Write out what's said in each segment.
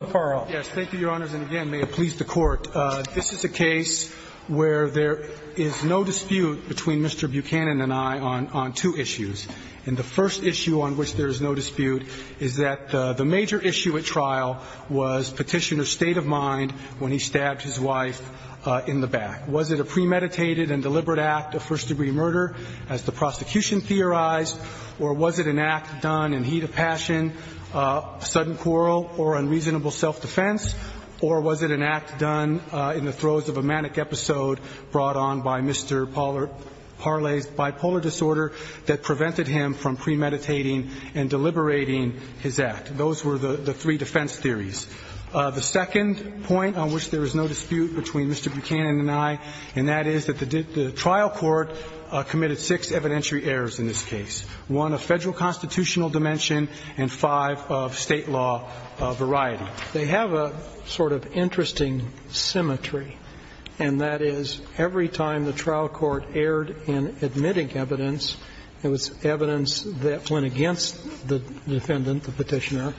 This is a case where there is no dispute between Mr. Buchanan and I on two issues. The first issue on which there is no dispute is that the major issue at trial was Petitioner's state of mind when he stabbed his wife in the back. Was it a premeditated and deliberate act of first degree murder as the prosecution theorized or was it an act done in heat of passion, sudden quarrel, or unreasonable self-defense? Or was it an act done in the throes of a manic episode brought on by Mr. Parley's bipolar disorder that prevented him from premeditating and deliberating his act? Those were the three defense theories. The second point on which there is no dispute between Mr. Buchanan and I, and that is that the trial court committed six evidentiary errors in this case, one of federal constitutional dimension and five of state law variety. They have a sort of interesting symmetry, and that is every time the trial court erred in admitting evidence, it was evidence that went against the defendant, the Petitioner,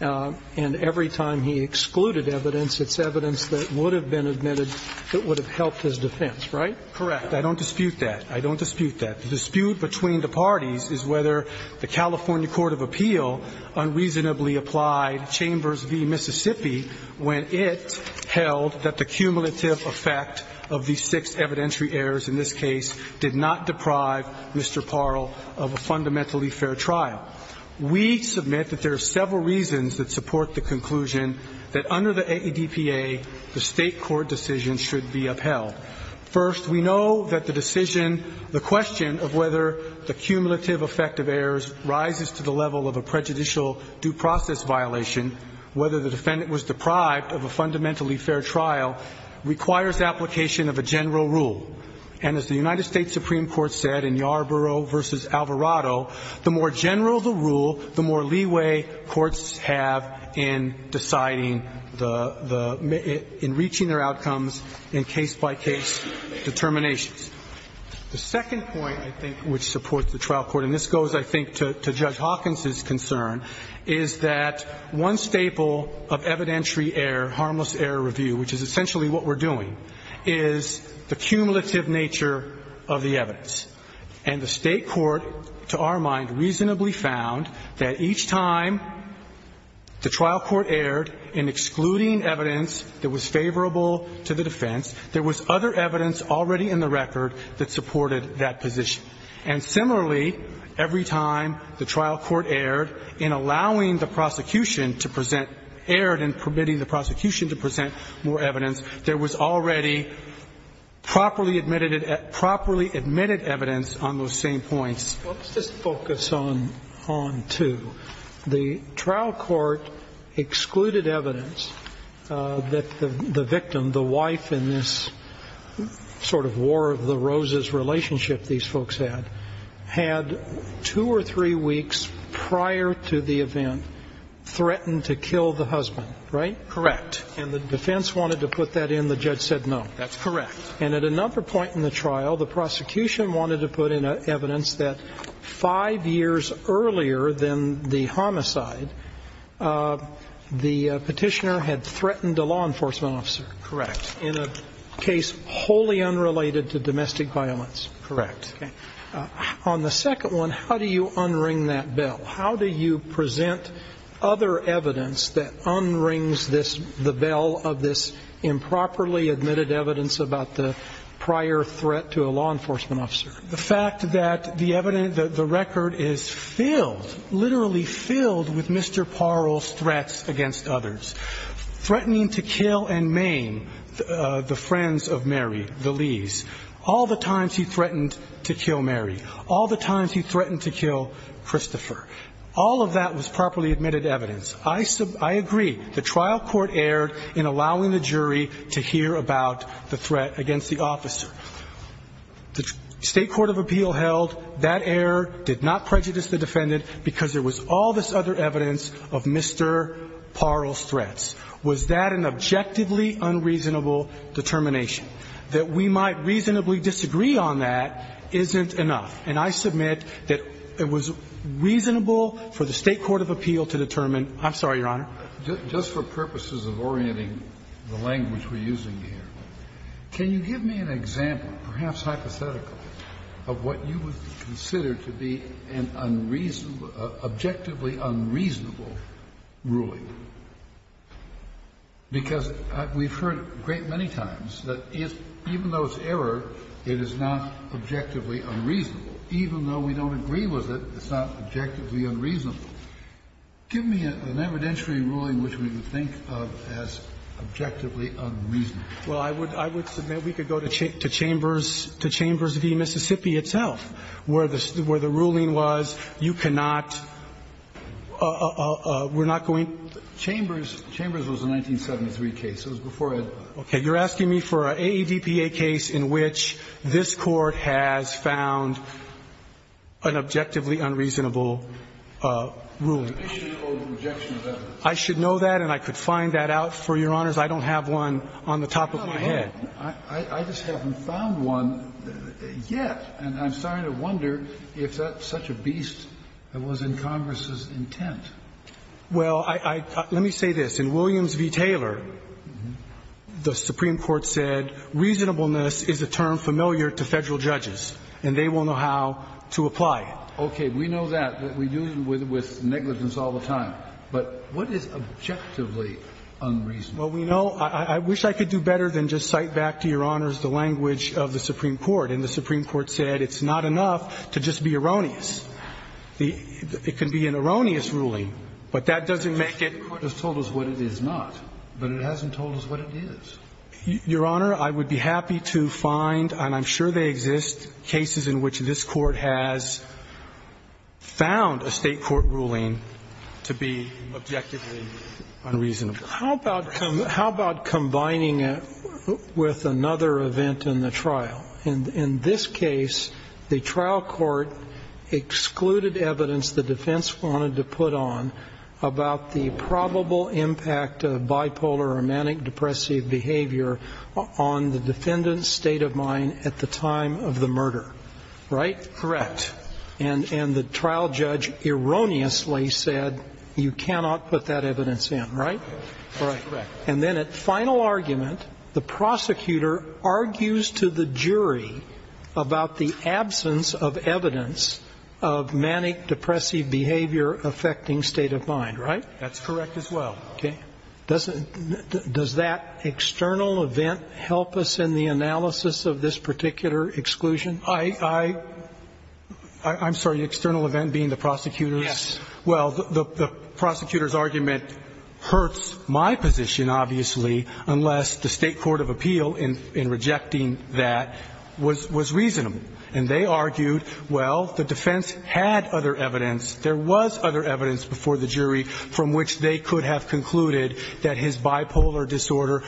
and every time he excluded evidence, it's evidence that would have been admitted that would have helped his defense, right? Correct. I don't dispute that. I don't dispute that. The dispute between the parties is whether the California Court of Appeal unreasonably applied Chambers v. Mississippi when it held that the cumulative effect of these six evidentiary errors in this case did not deprive Mr. Parley of a fundamentally fair trial. We submit that there are several reasons that support the conclusion that under the AADPA, the State court decision should be upheld. First, we know that the decision, the question of whether the cumulative effect of errors rises to the level of a prejudicial due process violation, whether the defendant was deprived of a fundamentally fair trial, requires application of a general rule. And as the United States Supreme Court said in Yarborough v. Alvarado, the more the case by case determinations. The second point, I think, which supports the trial court, and this goes, I think, to Judge Hawkins's concern, is that one staple of evidentiary error, harmless error review, which is essentially what we're doing, is the cumulative nature of the evidence. And the State court, to our mind, reasonably found that each time the trial court erred in excluding evidence that was favorable to the defense, there was other evidence already in the record that supported that position. And similarly, every time the trial court erred in allowing the prosecution to present, erred in permitting the prosecution to present more evidence, there was already properly admitted evidence on those same points. Let's just focus on two. The trial court excluded evidence that the victim, the wife in this sort of war of the roses relationship these folks had, had two or three weeks prior to the event threatened to kill the husband, right? Correct. And the defense wanted to put that in. The judge said no. That's correct. And at another point in the trial, the prosecution wanted to put in evidence that five years earlier than the homicide, the petitioner had threatened a law enforcement officer. Correct. In a case wholly unrelated to domestic violence. Correct. Okay. On the second one, how do you unring that bell? How do you present other evidence that unrings this, the bell of this improperly admitted evidence about the prior threat to a law enforcement officer? The fact that the record is filled, literally filled with Mr. Parole's threats against others, threatening to kill and maim the friends of Mary, the Lees, all the times he threatened to kill Mary, all the times he threatened to kill Christopher, all of that was properly admitted evidence. I agree. The trial court erred in allowing the jury to hear about the threat against the officer. The State Court of Appeal held that error did not prejudice the defendant because there was all this other evidence of Mr. Parole's threats. Was that an objectively unreasonable determination? That we might reasonably disagree on that isn't enough. And I submit that it was reasonable for the State Court of Appeal to determine – I'm sorry, Your Honor. Just for purposes of orienting the language we're using here, can you give me an example, perhaps hypothetically, of what you would consider to be an unreasonable – objectively unreasonable ruling? Because we've heard a great many times that even though it's error, it is not objectively unreasonable. Even though we don't agree with it, it's not objectively unreasonable. Give me an evidentiary ruling which we would think of as objectively unreasonable. Well, I would submit we could go to Chambers v. Mississippi itself, where the ruling was you cannot – we're not going to – Chambers was a 1973 case. It was before Ed. Okay. You're asking me for an AEDPA case in which this Court has found an objectively unreasonable ruling. Rejection of evidence. I should know that, and I could find that out for Your Honors. I don't have one on the top of my head. I just haven't found one yet, and I'm starting to wonder if that's such a beast that was in Congress's intent. Well, I – let me say this. In Williams v. Taylor, the Supreme Court said reasonableness is a term familiar to Federal judges, and they will know how to apply it. Okay. We know that. We deal with negligence all the time. But what is objectively unreasonable? Well, we know – I wish I could do better than just cite back to Your Honors the language of the Supreme Court, and the Supreme Court said it's not enough to just be erroneous. It can be an erroneous ruling, but that doesn't make it – The Supreme Court has told us what it is not, but it hasn't told us what it is. Your Honor, I would be happy to find, and I'm sure they exist, cases in which this Court has found a State court ruling to be objectively unreasonable. How about combining it with another event in the trial? Well, in this case, the trial court excluded evidence the defense wanted to put on about the probable impact of bipolar or manic depressive behavior on the defendant's state of mind at the time of the murder. Right? Correct. And the trial judge erroneously said you cannot put that evidence in. Right? Right. Correct. And then at final argument, the prosecutor argues to the jury about the absence of evidence of manic depressive behavior affecting state of mind. Right? That's correct as well. Okay. Does that external event help us in the analysis of this particular exclusion? I'm sorry, the external event being the prosecutor's? Yes. Well, the prosecutor's argument hurts my position, obviously, unless the State court of appeal in rejecting that was reasonable. And they argued, well, the defense had other evidence, there was other evidence before the jury from which they could have concluded that his bipolar disorder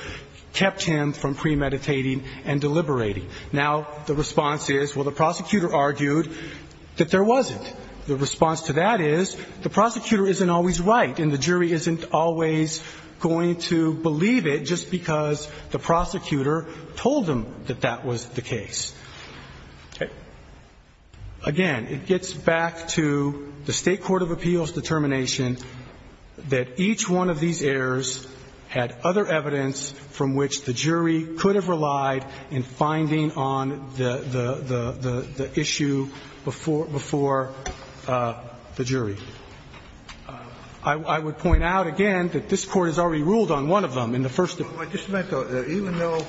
kept him from premeditating and deliberating. Now, the response is, well, the prosecutor argued that there wasn't. The response to that is, the prosecutor isn't always right and the jury isn't always going to believe it just because the prosecutor told them that that was the case. Okay. Again, it gets back to the State court of appeals determination that each one of these errors had other evidence from which the jury could have relied in finding on the issue before the jury. I would point out, again, that this Court has already ruled on one of them in the first. Just a minute, though. Even though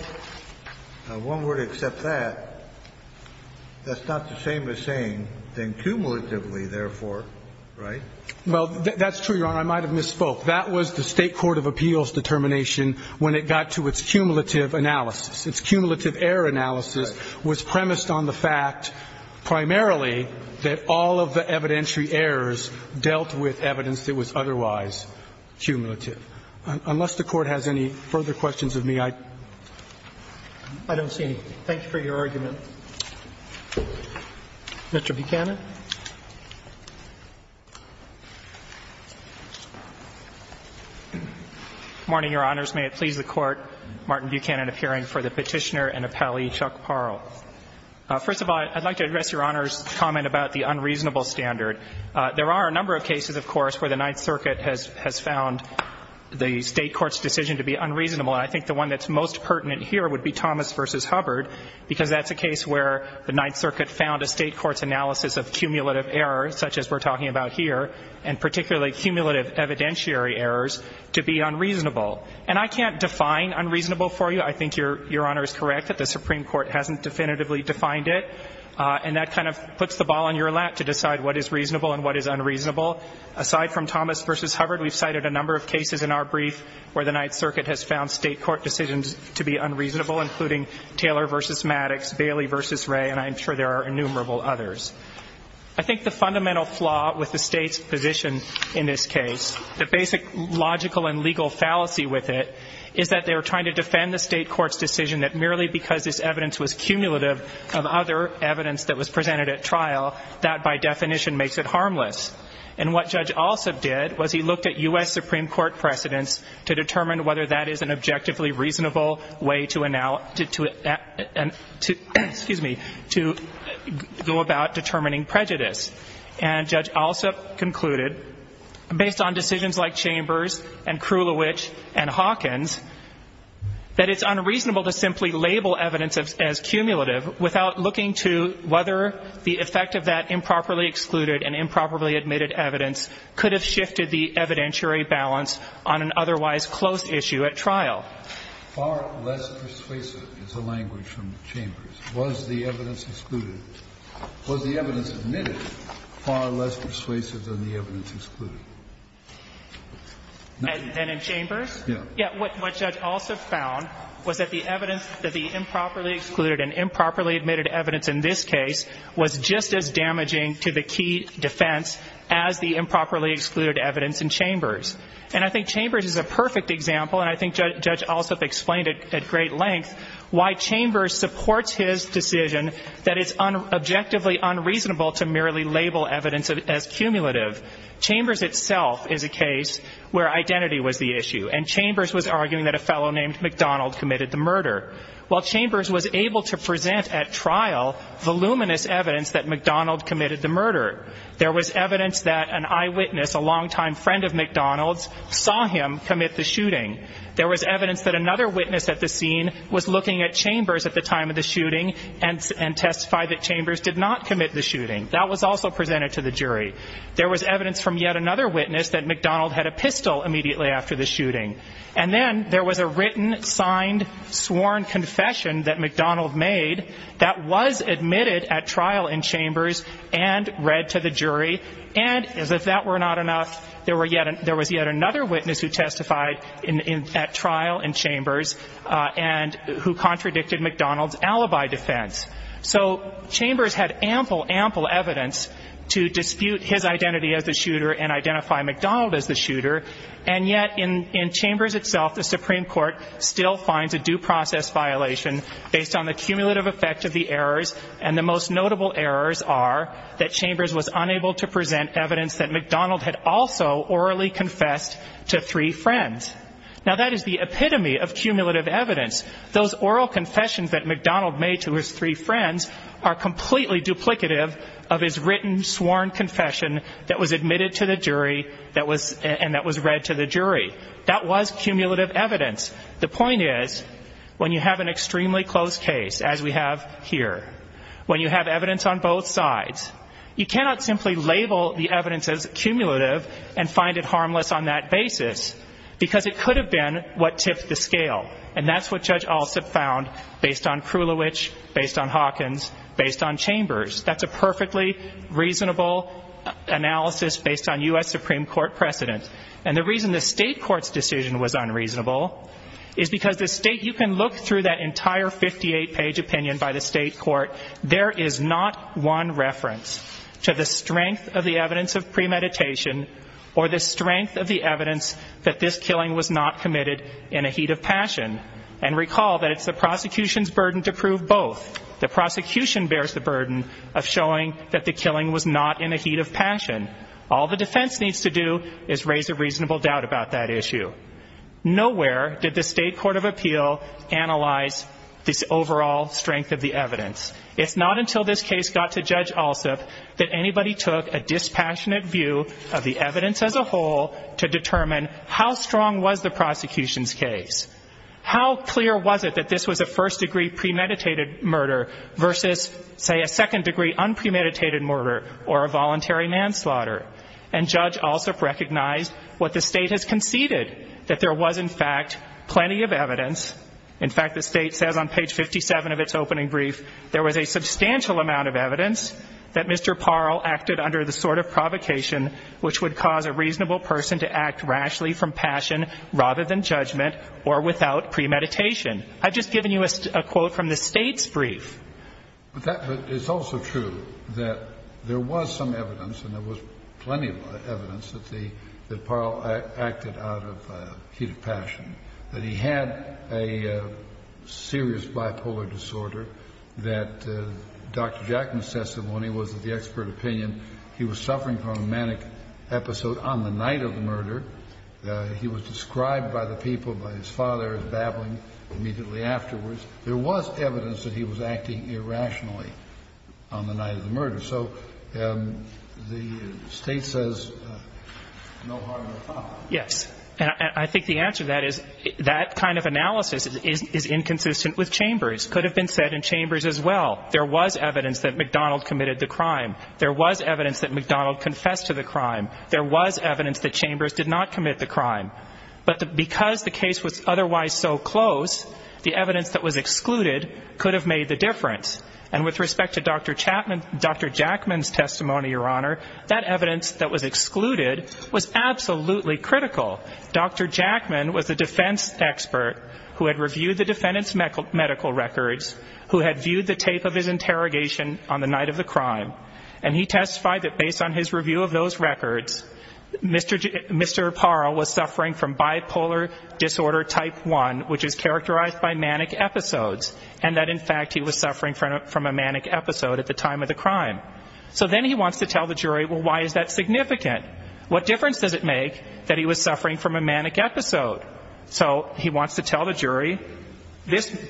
one were to accept that, that's not the same as saying then cumulatively, therefore, right? Well, that's true, Your Honor. I might have misspoke. That was the State court of appeals determination when it got to its cumulative analysis. Its cumulative error analysis was premised on the fact primarily that all of the evidentiary errors dealt with evidence that was otherwise cumulative. Unless the Court has any further questions of me, I don't see any. Thank you for your argument. Mr. Buchanan. Morning, Your Honors. May it please the Court, Martin Buchanan appearing for the Petitioner and Appellee Chuck Parle. First of all, I'd like to address Your Honor's comment about the unreasonable standard. There are a number of cases, of course, where the Ninth Circuit has found the State court's decision to be unreasonable, and I think the one that's most pertinent here would be Thomas v. Hubbard, because that's a case where the Ninth Circuit found a State court's analysis of cumulative error, such as we're talking about here, and particularly cumulative evidentiary errors, to be unreasonable. And I can't define unreasonable for you. I think Your Honor is correct that the Supreme Court hasn't definitively defined it, and that kind of puts the ball on your lap to decide what is reasonable and what is unreasonable. Aside from Thomas v. Hubbard, we've cited a number of cases in our brief where the Ninth Circuit has found State court decisions to be unreasonable, including Taylor v. Maddox, Bailey v. Ray, and I'm sure there are innumerable others. I think the fundamental flaw with the State's position in this case, the basic logical and legal fallacy with it, is that they were trying to defend the State court's decision that merely because this evidence was cumulative of other evidence that was presented at trial, that by definition makes it harmless. And what Judge Alsop did was he looked at U.S. Supreme Court precedents to determine whether that is an objectively reasonable way to go about determining prejudice. And Judge Alsop concluded, based on decisions like Chambers and Krulowich and Hawkins, that it's unreasonable to simply label evidence as cumulative without looking to whether the effect of that improperly excluded and improperly admitted evidence could have shifted the evidentiary balance on an otherwise clear basis. And in Chambers? Yeah. Yeah. What Judge Alsop found was that the evidence that the improperly excluded and improperly admitted evidence in this case was just as damaging to the key defense as the improperly excluded evidence in Chambers. I think it's a perfect example of that. It's a perfect example, and I think Judge Alsop explained it at great length, why Chambers supports his decision that it's objectively unreasonable to merely label evidence as cumulative. Chambers itself is a case where identity was the issue, and Chambers was arguing that a fellow named McDonald committed the murder. While Chambers was able to present at trial voluminous evidence that McDonald committed the murder, there was evidence that an eyewitness, a longtime friend of McDonald's, saw him commit the shooting. There was evidence that another witness at the scene was looking at Chambers at the time of the shooting and testified that Chambers did not commit the shooting. That was also presented to the jury. There was evidence from yet another witness that McDonald had a pistol immediately after the shooting. And then there was a written, signed, sworn confession that McDonald made that was admitted at trial in Chambers and read to the jury, and as if that were not enough, there was yet another witness who testified at trial in Chambers and who contradicted McDonald's alibi defense. So Chambers had ample, ample evidence to dispute his identity as the shooter and identify McDonald as the shooter, and yet in Chambers itself, the Supreme Court still finds a due process violation based on the cumulative effect of the errors, and the most notable errors are that Chambers was unable to present evidence that he also orally confessed to three friends. Now, that is the epitome of cumulative evidence. Those oral confessions that McDonald made to his three friends are completely duplicative of his written, sworn confession that was admitted to the jury and that was read to the jury. That was cumulative evidence. The point is, when you have an extremely close case, as we have here, when you have cumulative and find it harmless on that basis, because it could have been what tipped the scale, and that's what Judge Alsup found based on Krulowich, based on Hawkins, based on Chambers. That's a perfectly reasonable analysis based on U.S. Supreme Court precedent, and the reason the state court's decision was unreasonable is because the state, you can look through that entire 58-page opinion by the state court. There is not one reference to the strength of the evidence of premeditation or the strength of the evidence that this killing was not committed in a heat of passion. And recall that it's the prosecution's burden to prove both. The prosecution bears the burden of showing that the killing was not in a heat of passion. All the defense needs to do is raise a reasonable doubt about that issue. Nowhere did the state court of appeal analyze this overall strength of the evidence. It's not until this case got to Judge Alsup that anybody took a dispassionate view of the evidence as a whole to determine how strong was the prosecution's case. How clear was it that this was a first-degree premeditated murder versus, say, a second-degree unpremeditated murder or a voluntary manslaughter? And Judge Alsup recognized what the state has conceded, that there was, in fact, plenty of evidence. In fact, the state says on page 57 of its opening brief, there was a substantial amount of evidence that Mr. Parle acted under the sort of provocation which would cause a reasonable person to act rashly from passion rather than judgment or without premeditation. I've just given you a quote from the state's brief. But that's also true, that there was some evidence and there was plenty of evidence that Parle acted out of heat of passion, that he had a serious bipolar disorder, that Dr. Jackman says that when he was at the expert opinion, he was suffering from a manic episode on the night of the murder. He was described by the people, by his father, as babbling immediately afterwards. There was evidence that he was acting irrationally on the night of the murder. So the state says no harm or foul. Yes. And I think the answer to that is that kind of analysis is inconsistent with Chambers. It could have been said in Chambers as well. There was evidence that McDonald committed the crime. There was evidence that McDonald confessed to the crime. There was evidence that Chambers did not commit the crime. But because the case was otherwise so close, the evidence that was excluded could have made the difference. And with respect to Dr. Jackman's testimony, Your Honor, that evidence that was excluded was absolutely critical. Dr. Jackman was a defense expert who had reviewed the defendant's medical records, who had viewed the tape of his interrogation on the night of the crime, and he testified that based on his review of those records, Mr. Parle was suffering from bipolar disorder type 1, which is characterized by manic episodes, and that in fact he was suffering from a manic episode at the time of the crime. So then he wants to tell the jury, well, why is that significant? What difference does it make that he was suffering from a manic episode? So he wants to tell the jury,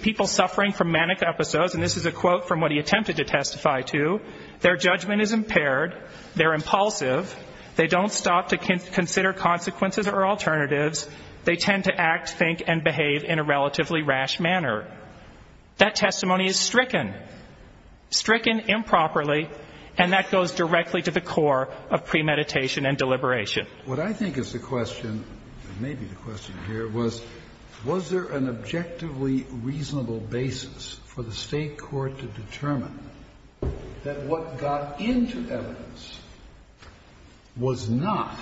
people suffering from manic episodes, and this is a quote from what he attempted to testify to, their judgment is impaired, they're impulsive, they don't stop to consider consequences or alternatives, they tend to act, think, and behave in a relatively rash manner. That testimony is stricken, stricken improperly, and that goes directly to the core of premeditation and deliberation. What I think is the question, maybe the question here, was was there an objectively reasonable basis for the state court to determine that what got into evidence was not,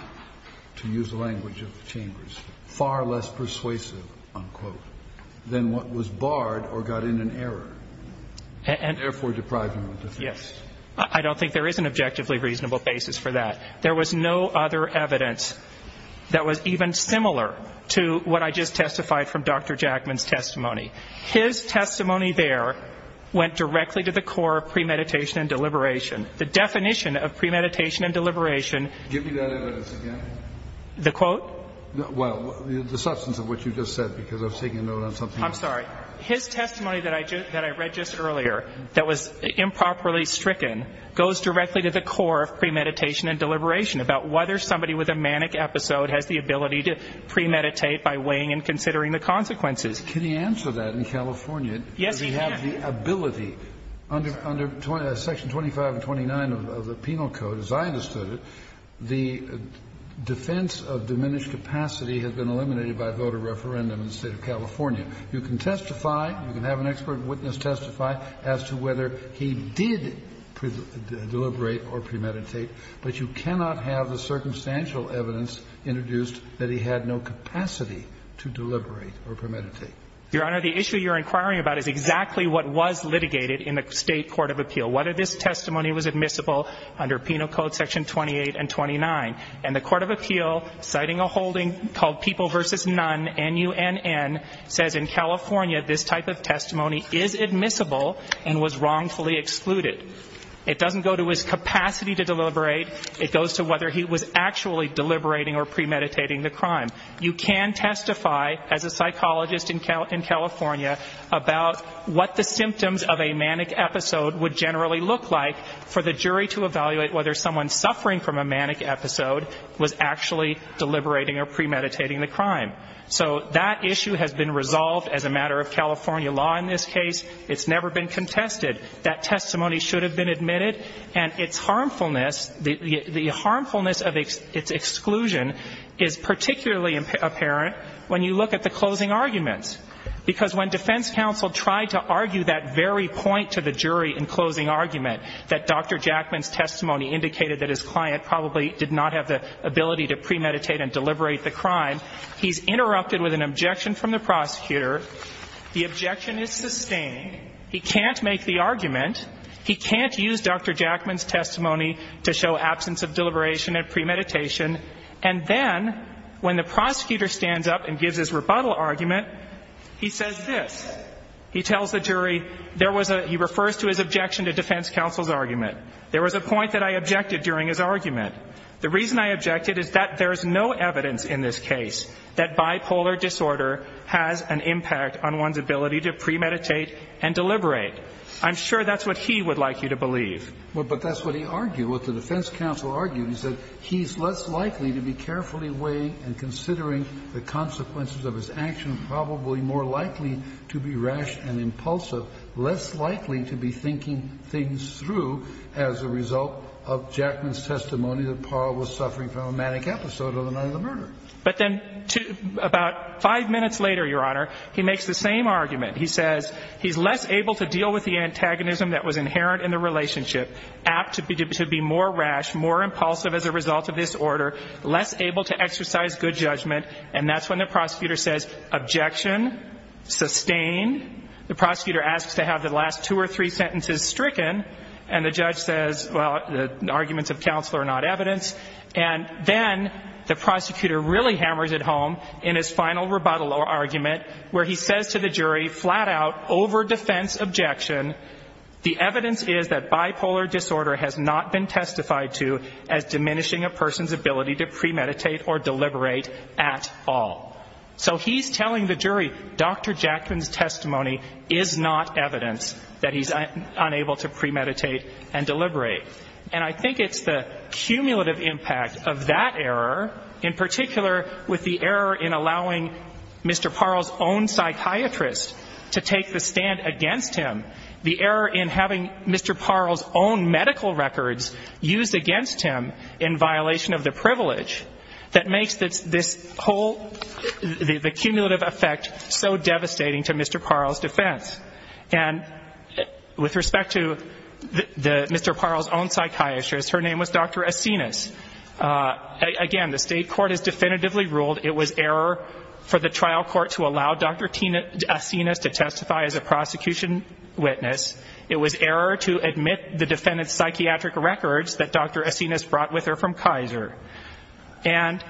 to use the language of the chambers, far less persuasive, unquote, than what was barred or got in an error, and therefore depriving the defense? Yes. I don't think there is an objectively reasonable basis for that. There was no other evidence that was even similar to what I just testified from Dr. Jackman's testimony. His testimony there went directly to the core of premeditation and deliberation. The definition of premeditation and deliberation... Give me that evidence again. The quote? Well, the substance of what you just said, because I was taking a note on something else. I'm sorry. His testimony that I read just earlier, that was improperly stricken, goes directly to the core of premeditation and deliberation, about whether somebody with a manic episode has the ability to premeditate by weighing and considering the consequences. Can he answer that in California? Yes, he can. Does he have the ability? Under Section 25 and 29 of the Penal Code, as I understood it, the defense of diminished capacity has been eliminated by voter referendum in the State of California. You can testify, you can have an expert witness testify as to whether he did deliberate or premeditate, but you cannot have the circumstantial evidence introduced that he had no capacity to deliberate or premeditate. Your Honor, the issue you're inquiring about is exactly what was litigated in the State Court of Appeal. Whether this testimony was admissible under Penal Code Section 28 and 29. And the Court of Appeal, citing a holding called People v. None, N-U-N-N, says in California this type of testimony is admissible and was wrongfully excluded. It doesn't go to his capacity to deliberate. It goes to whether he was actually deliberating or premeditating the crime. You can testify as a psychologist in California about what the symptoms of a manic episode would generally look like for the jury to evaluate whether someone suffering from a manic episode was actually deliberating or premeditating the crime. So that issue has been resolved as a matter of California law in this case. It's never been contested. That testimony should have been admitted. And its harmfulness, the harmfulness of its exclusion is particularly apparent when you look at the closing arguments. Because when defense counsel tried to argue that very point to the jury in closing argument, that Dr. Jackman's testimony indicated that his client probably did not have the ability to premeditate and deliberate the crime, he's interrupted with an objection from the prosecutor. The objection is sustained. He can't make the argument. He can't use Dr. Jackman's testimony to show absence of deliberation and premeditation. And then when the prosecutor stands up and gives his rebuttal argument, he says this. He tells the jury there was a he refers to his objection to defense counsel's argument. There was a point that I objected during his argument. The reason I objected is that there is no evidence in this case that bipolar disorder has an impact on one's ability to premeditate and deliberate. I'm sure that's what he would like you to believe. But that's what he argued, what the defense counsel argued. He said he's less likely to be carefully weighing and considering the consequences of his actions, probably more likely to be rash and impulsive, less likely to be thinking things through as a result of Jackman's testimony that Parra was suffering from a manic episode on the night of the murder. But then about five minutes later, Your Honor, he makes the same argument. He says he's less able to deal with the antagonism that was inherent in the relationship, apt to be more rash, more impulsive as a result of this order, less able to exercise good judgment. And that's when the prosecutor says objection, sustain. The prosecutor asks to have the last two or three sentences stricken. And the judge says, well, the arguments of counsel are not evidence. And then the prosecutor really hammers it home in his final rebuttal argument where he says to the jury, flat out, over defense objection, the evidence is that bipolar disorder has not been testified to as diminishing a person's ability to premeditate or deliberate at all. So he's telling the jury, Dr. Jackman's testimony is not evidence that he's unable to premeditate and deliberate. And I think it's the cumulative impact of that error, in particular with the error in having Mr. Parle's own psychiatrist to take the stand against him, the error in having Mr. Parle's own medical records used against him in violation of the privilege, that makes this whole, the cumulative effect so devastating to Mr. Parle's defense. And with respect to Mr. Parle's own psychiatrist, her name was Dr. Asinas. Again, the state court has definitively ruled it was error for the trial court to allow Dr. Asinas to testify as a prosecution witness. It was error to admit the defendant's psychiatric records that Dr. Asinas brought with her from Kaiser. And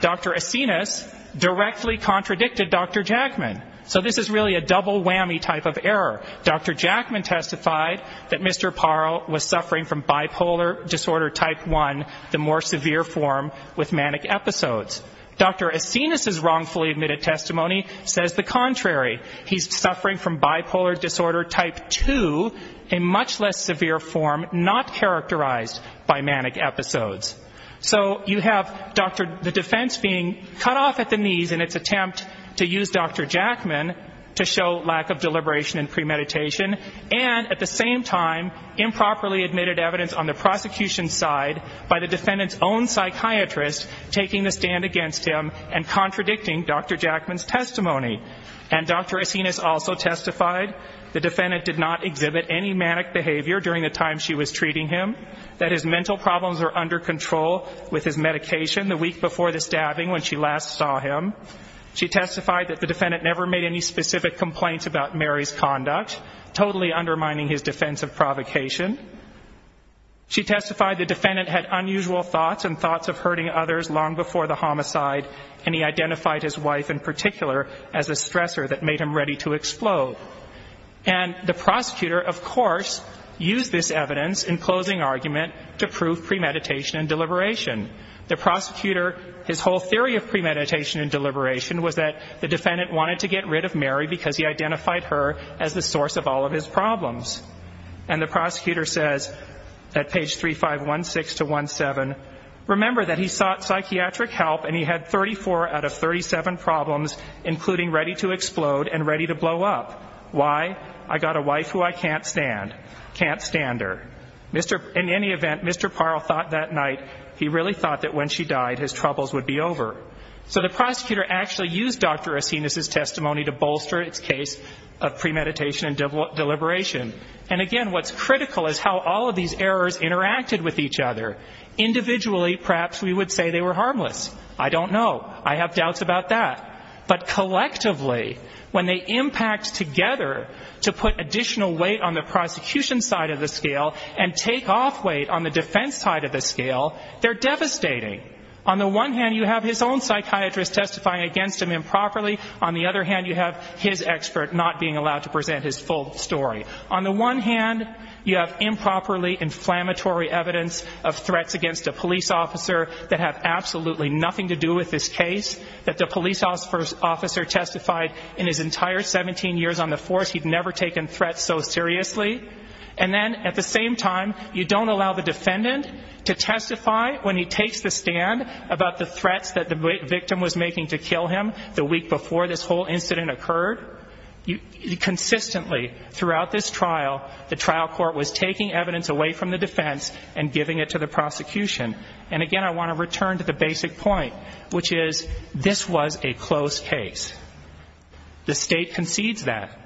Dr. Asinas directly contradicted Dr. Jackman. So this is really a double whammy type of error. Dr. Jackman testified that Mr. Parle was suffering from bipolar disorder type 1, the more severe form, with manic episodes. Dr. Asinas' wrongfully admitted testimony says the contrary. He's suffering from bipolar disorder type 2, a much less severe form, not characterized by manic episodes. So you have, Dr. the defense being cut off at the knees in its attempt to use Dr. Jackman to show lack of deliberation and premeditation, and at the same time improperly admitted evidence on the prosecution's side by the defendant's own psychiatrist taking the stand against him and contradicting Dr. Jackman's testimony. And Dr. Asinas also testified the defendant did not exhibit any manic behavior during the time she was treating him, that his mental problems were under control with his medication the week before the stabbing when she last saw him. She testified that the defendant never made any specific complaints about Mary's conduct, totally undermining his defense of provocation. She testified the defendant had unusual thoughts and thoughts of hurting others long before the homicide, and he identified his wife in particular as a stressor that made him ready to explode. And the prosecutor, of course, used this evidence in closing argument to prove premeditation and deliberation. The prosecutor, his whole theory of premeditation and deliberation was that the defendant wanted to get rid of Mary because he identified her as the source of all of his problems. And the prosecutor says at page 3516-17, remember that he sought psychiatric help and he had 34 out of 37 problems, including ready to explode and ready to blow up. Why? I got a wife who I can't stand. Can't stand her. In any event, Mr. Parle thought that night he really thought that when she died his troubles would be over. So the prosecutor actually used Dr. Acenas' testimony to bolster its case of premeditation and deliberation. And, again, what's critical is how all of these errors interacted with each other. Individually, perhaps we would say they were harmless. I don't know. I have doubts about that. But collectively, when they impact together to put additional weight on the prosecution side of the scale and take off weight on the defense side of the scale, they're devastating. On the one hand, you have his own psychiatrist testifying against him improperly. On the other hand, you have his expert not being allowed to present his full story. On the one hand, you have improperly inflammatory evidence of threats against a police officer that have absolutely nothing to do with this case, that the police officer testified in his entire 17 years on the force. He'd never taken threats so seriously. And then, at the same time, you don't allow the defendant to testify when he takes the stand about the threats that the victim was making to kill him the week before this whole incident occurred. Consistently, throughout this trial, the trial court was taking evidence away from the defense and giving it to the prosecution. And, again, I want to return to the basic point, which is this was a closed case. The state concedes that.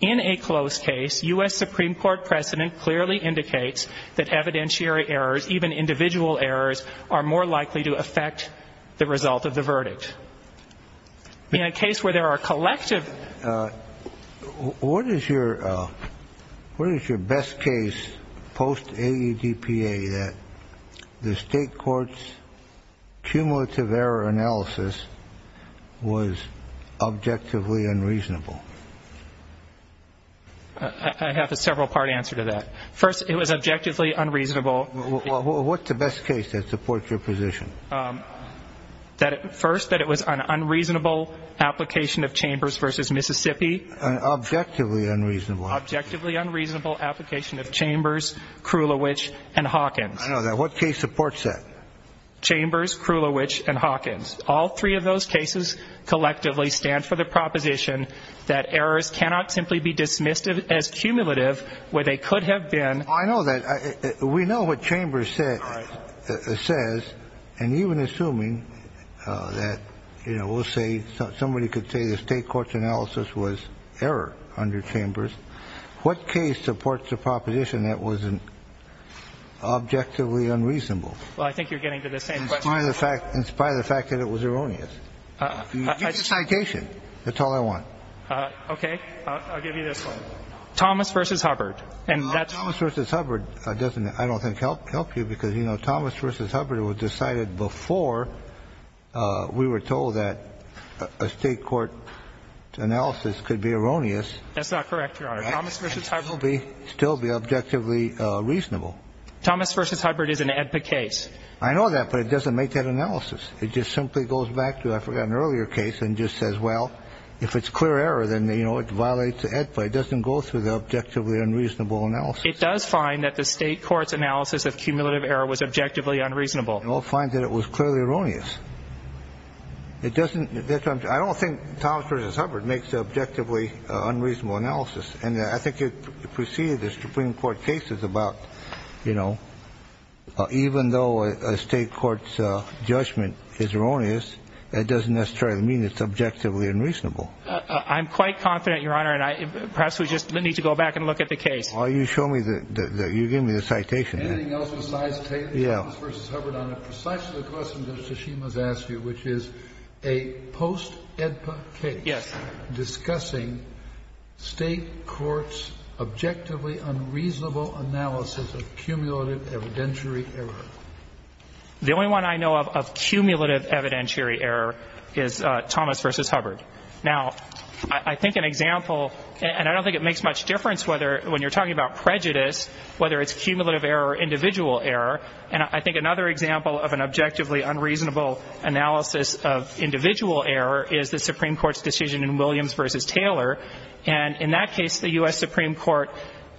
In a closed case, U.S. Supreme Court precedent clearly indicates that evidentiary errors, even individual errors, are more likely to affect the result of the verdict. In a case where there are collective ---- I have a several-part answer to that. First, it was objectively unreasonable. What's the best case that supports your position? First, that it was an unreasonable application of Chambers v. Mississippi. Objectively unreasonable. Objectively unreasonable application of Chambers, Krulowich, and Hawkins. I know that. Chambers, Krulowich, and Hawkins. All three of those cases collectively stand for the proposition that errors cannot simply be dismissed as cumulative where they could have been. I know that. We know what Chambers says. And even assuming that, you know, we'll say somebody could say the state court's analysis was error under Chambers, what case supports a proposition that was objectively unreasonable? Well, I think you're getting to the same question. In spite of the fact that it was erroneous. Give me a citation. That's all I want. Okay. I'll give you this one. Thomas v. Hubbard. And that's ---- Thomas v. Hubbard doesn't, I don't think, help you because, you know, Thomas v. Hubbard was decided before we were told that a state court analysis could be erroneous. That's not correct, Your Honor. Thomas v. Hubbard. It would still be objectively reasonable. Thomas v. Hubbard is an EBPA case. I know that, but it doesn't make that analysis. It just simply goes back to, I forgot, an earlier case and just says, well, if it's clear error, then, you know, it violates the EBPA. It doesn't go through the objectively unreasonable analysis. It does find that the state court's analysis of cumulative error was objectively unreasonable. And we'll find that it was clearly erroneous. It doesn't ---- I don't think Thomas v. Hubbard makes an objectively unreasonable analysis. And I think it preceded the Supreme Court cases about, you know, even though a state court's judgment is erroneous, that doesn't necessarily mean it's objectively unreasonable. I'm quite confident, Your Honor, and perhaps we just need to go back and look at the case. Why don't you show me the ---- you gave me the citation. Anything else besides Thomas v. Hubbard on it? Yeah. Precisely the question that Mr. Shima has asked you, which is a post-EDPA case. Yes. Discussing state courts' objectively unreasonable analysis of cumulative evidentiary error. The only one I know of of cumulative evidentiary error is Thomas v. Hubbard. Now, I think an example ---- and I don't think it makes much difference whether, when you're talking about prejudice, whether it's cumulative error or individual error. And I think another example of an objectively unreasonable analysis of individual error is the Supreme Court's decision in Williams v. Taylor. And in that case, the U.S. Supreme Court,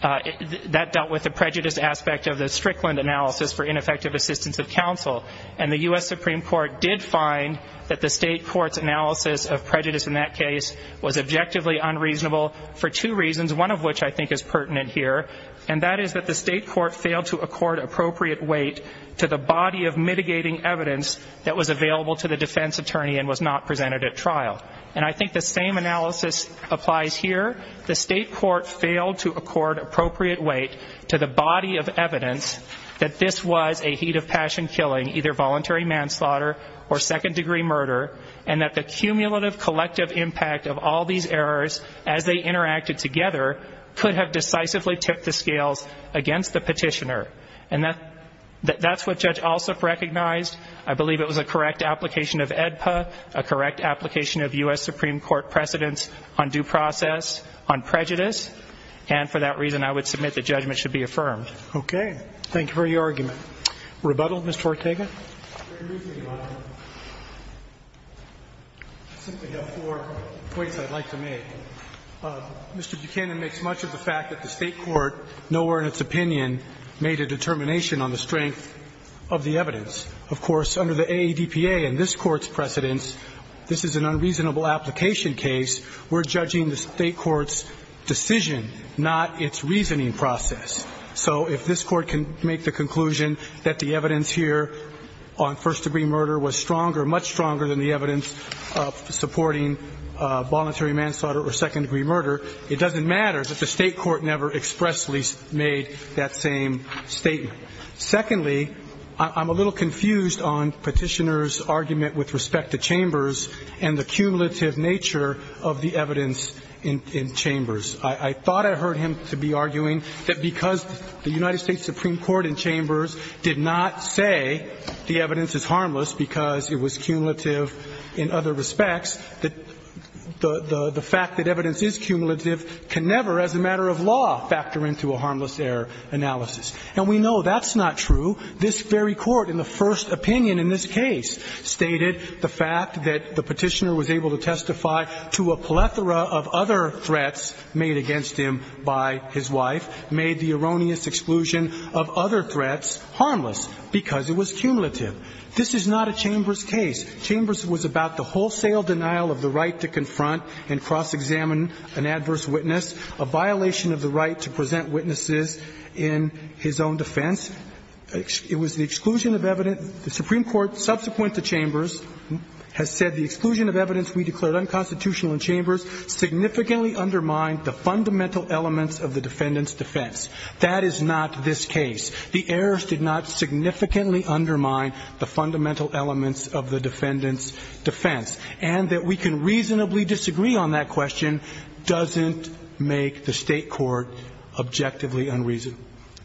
that dealt with the prejudice aspect of the Strickland analysis for ineffective assistance of counsel. And the U.S. Supreme Court did find that the state court's analysis of prejudice in that case was objectively unreasonable for two reasons, one of which I think is pertinent here. And that is that the state court failed to accord appropriate weight to the body of mitigating evidence that was available to the defense attorney and was not presented at trial. And I think the same analysis applies here. The state court failed to accord appropriate weight to the body of evidence that this was a heat of passion killing, either voluntary manslaughter or second-degree murder, and that the cumulative collective impact of all these errors, as they interacted together, could have decisively tipped the scales against the petitioner. And that's what Judge Alsup recognized. I believe it was a correct application of AEDPA, a correct application of U.S. Supreme Court precedents on due process on prejudice. And for that reason, I would submit that judgment should be affirmed. Okay. Thank you for your argument. Rebuttal, Mr. Ortega? Very briefly, Your Honor. I simply have four points I'd like to make. Mr. Buchanan makes much of the fact that the state court, nowhere in its opinion, made a determination on the strength of the evidence. Of course, under the AEDPA and this Court's precedents, this is an unreasonable application case. We're judging the state court's decision, not its reasoning process. So if this Court can make the conclusion that the evidence here on first-degree murder was stronger, much stronger, than the evidence supporting voluntary manslaughter or second-degree murder, it doesn't matter that the state court never expressly made that same statement. Secondly, I'm a little confused on Petitioner's argument with respect to Chambers and the cumulative nature of the evidence in Chambers. I thought I heard him to be arguing that because the United States Supreme Court in Chambers did not say the evidence is harmless because it was cumulative in other respects, that the fact that evidence is cumulative can never, as a matter of law, factor into a harmless error analysis. And we know that's not true. This very Court in the first opinion in this case stated the fact that the Petitioner was able to testify to a plethora of other threats made against him by his wife, made the erroneous exclusion of other threats harmless because it was cumulative. This is not a Chambers case. Chambers was about the wholesale denial of the right to confront and cross-examine an adverse witness, a violation of the right to present witnesses in his own defense. It was the exclusion of evidence. The Supreme Court, subsequent to Chambers, has said the exclusion of evidence we declared unconstitutional in Chambers significantly undermined the fundamental elements of the defendant's defense. That is not this case. The errors did not significantly undermine the fundamental elements of the defendant's defense. And that we can reasonably disagree on that question doesn't make the State court objectively unreasonable.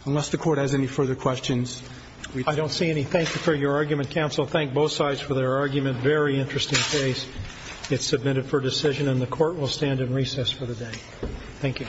Unless the Court has any further questions. Roberts. I don't see any. Thank you for your argument, counsel. Thank both sides for their argument. Very interesting case. It's submitted for decision, and the Court will stand in recess for the day. Thank you.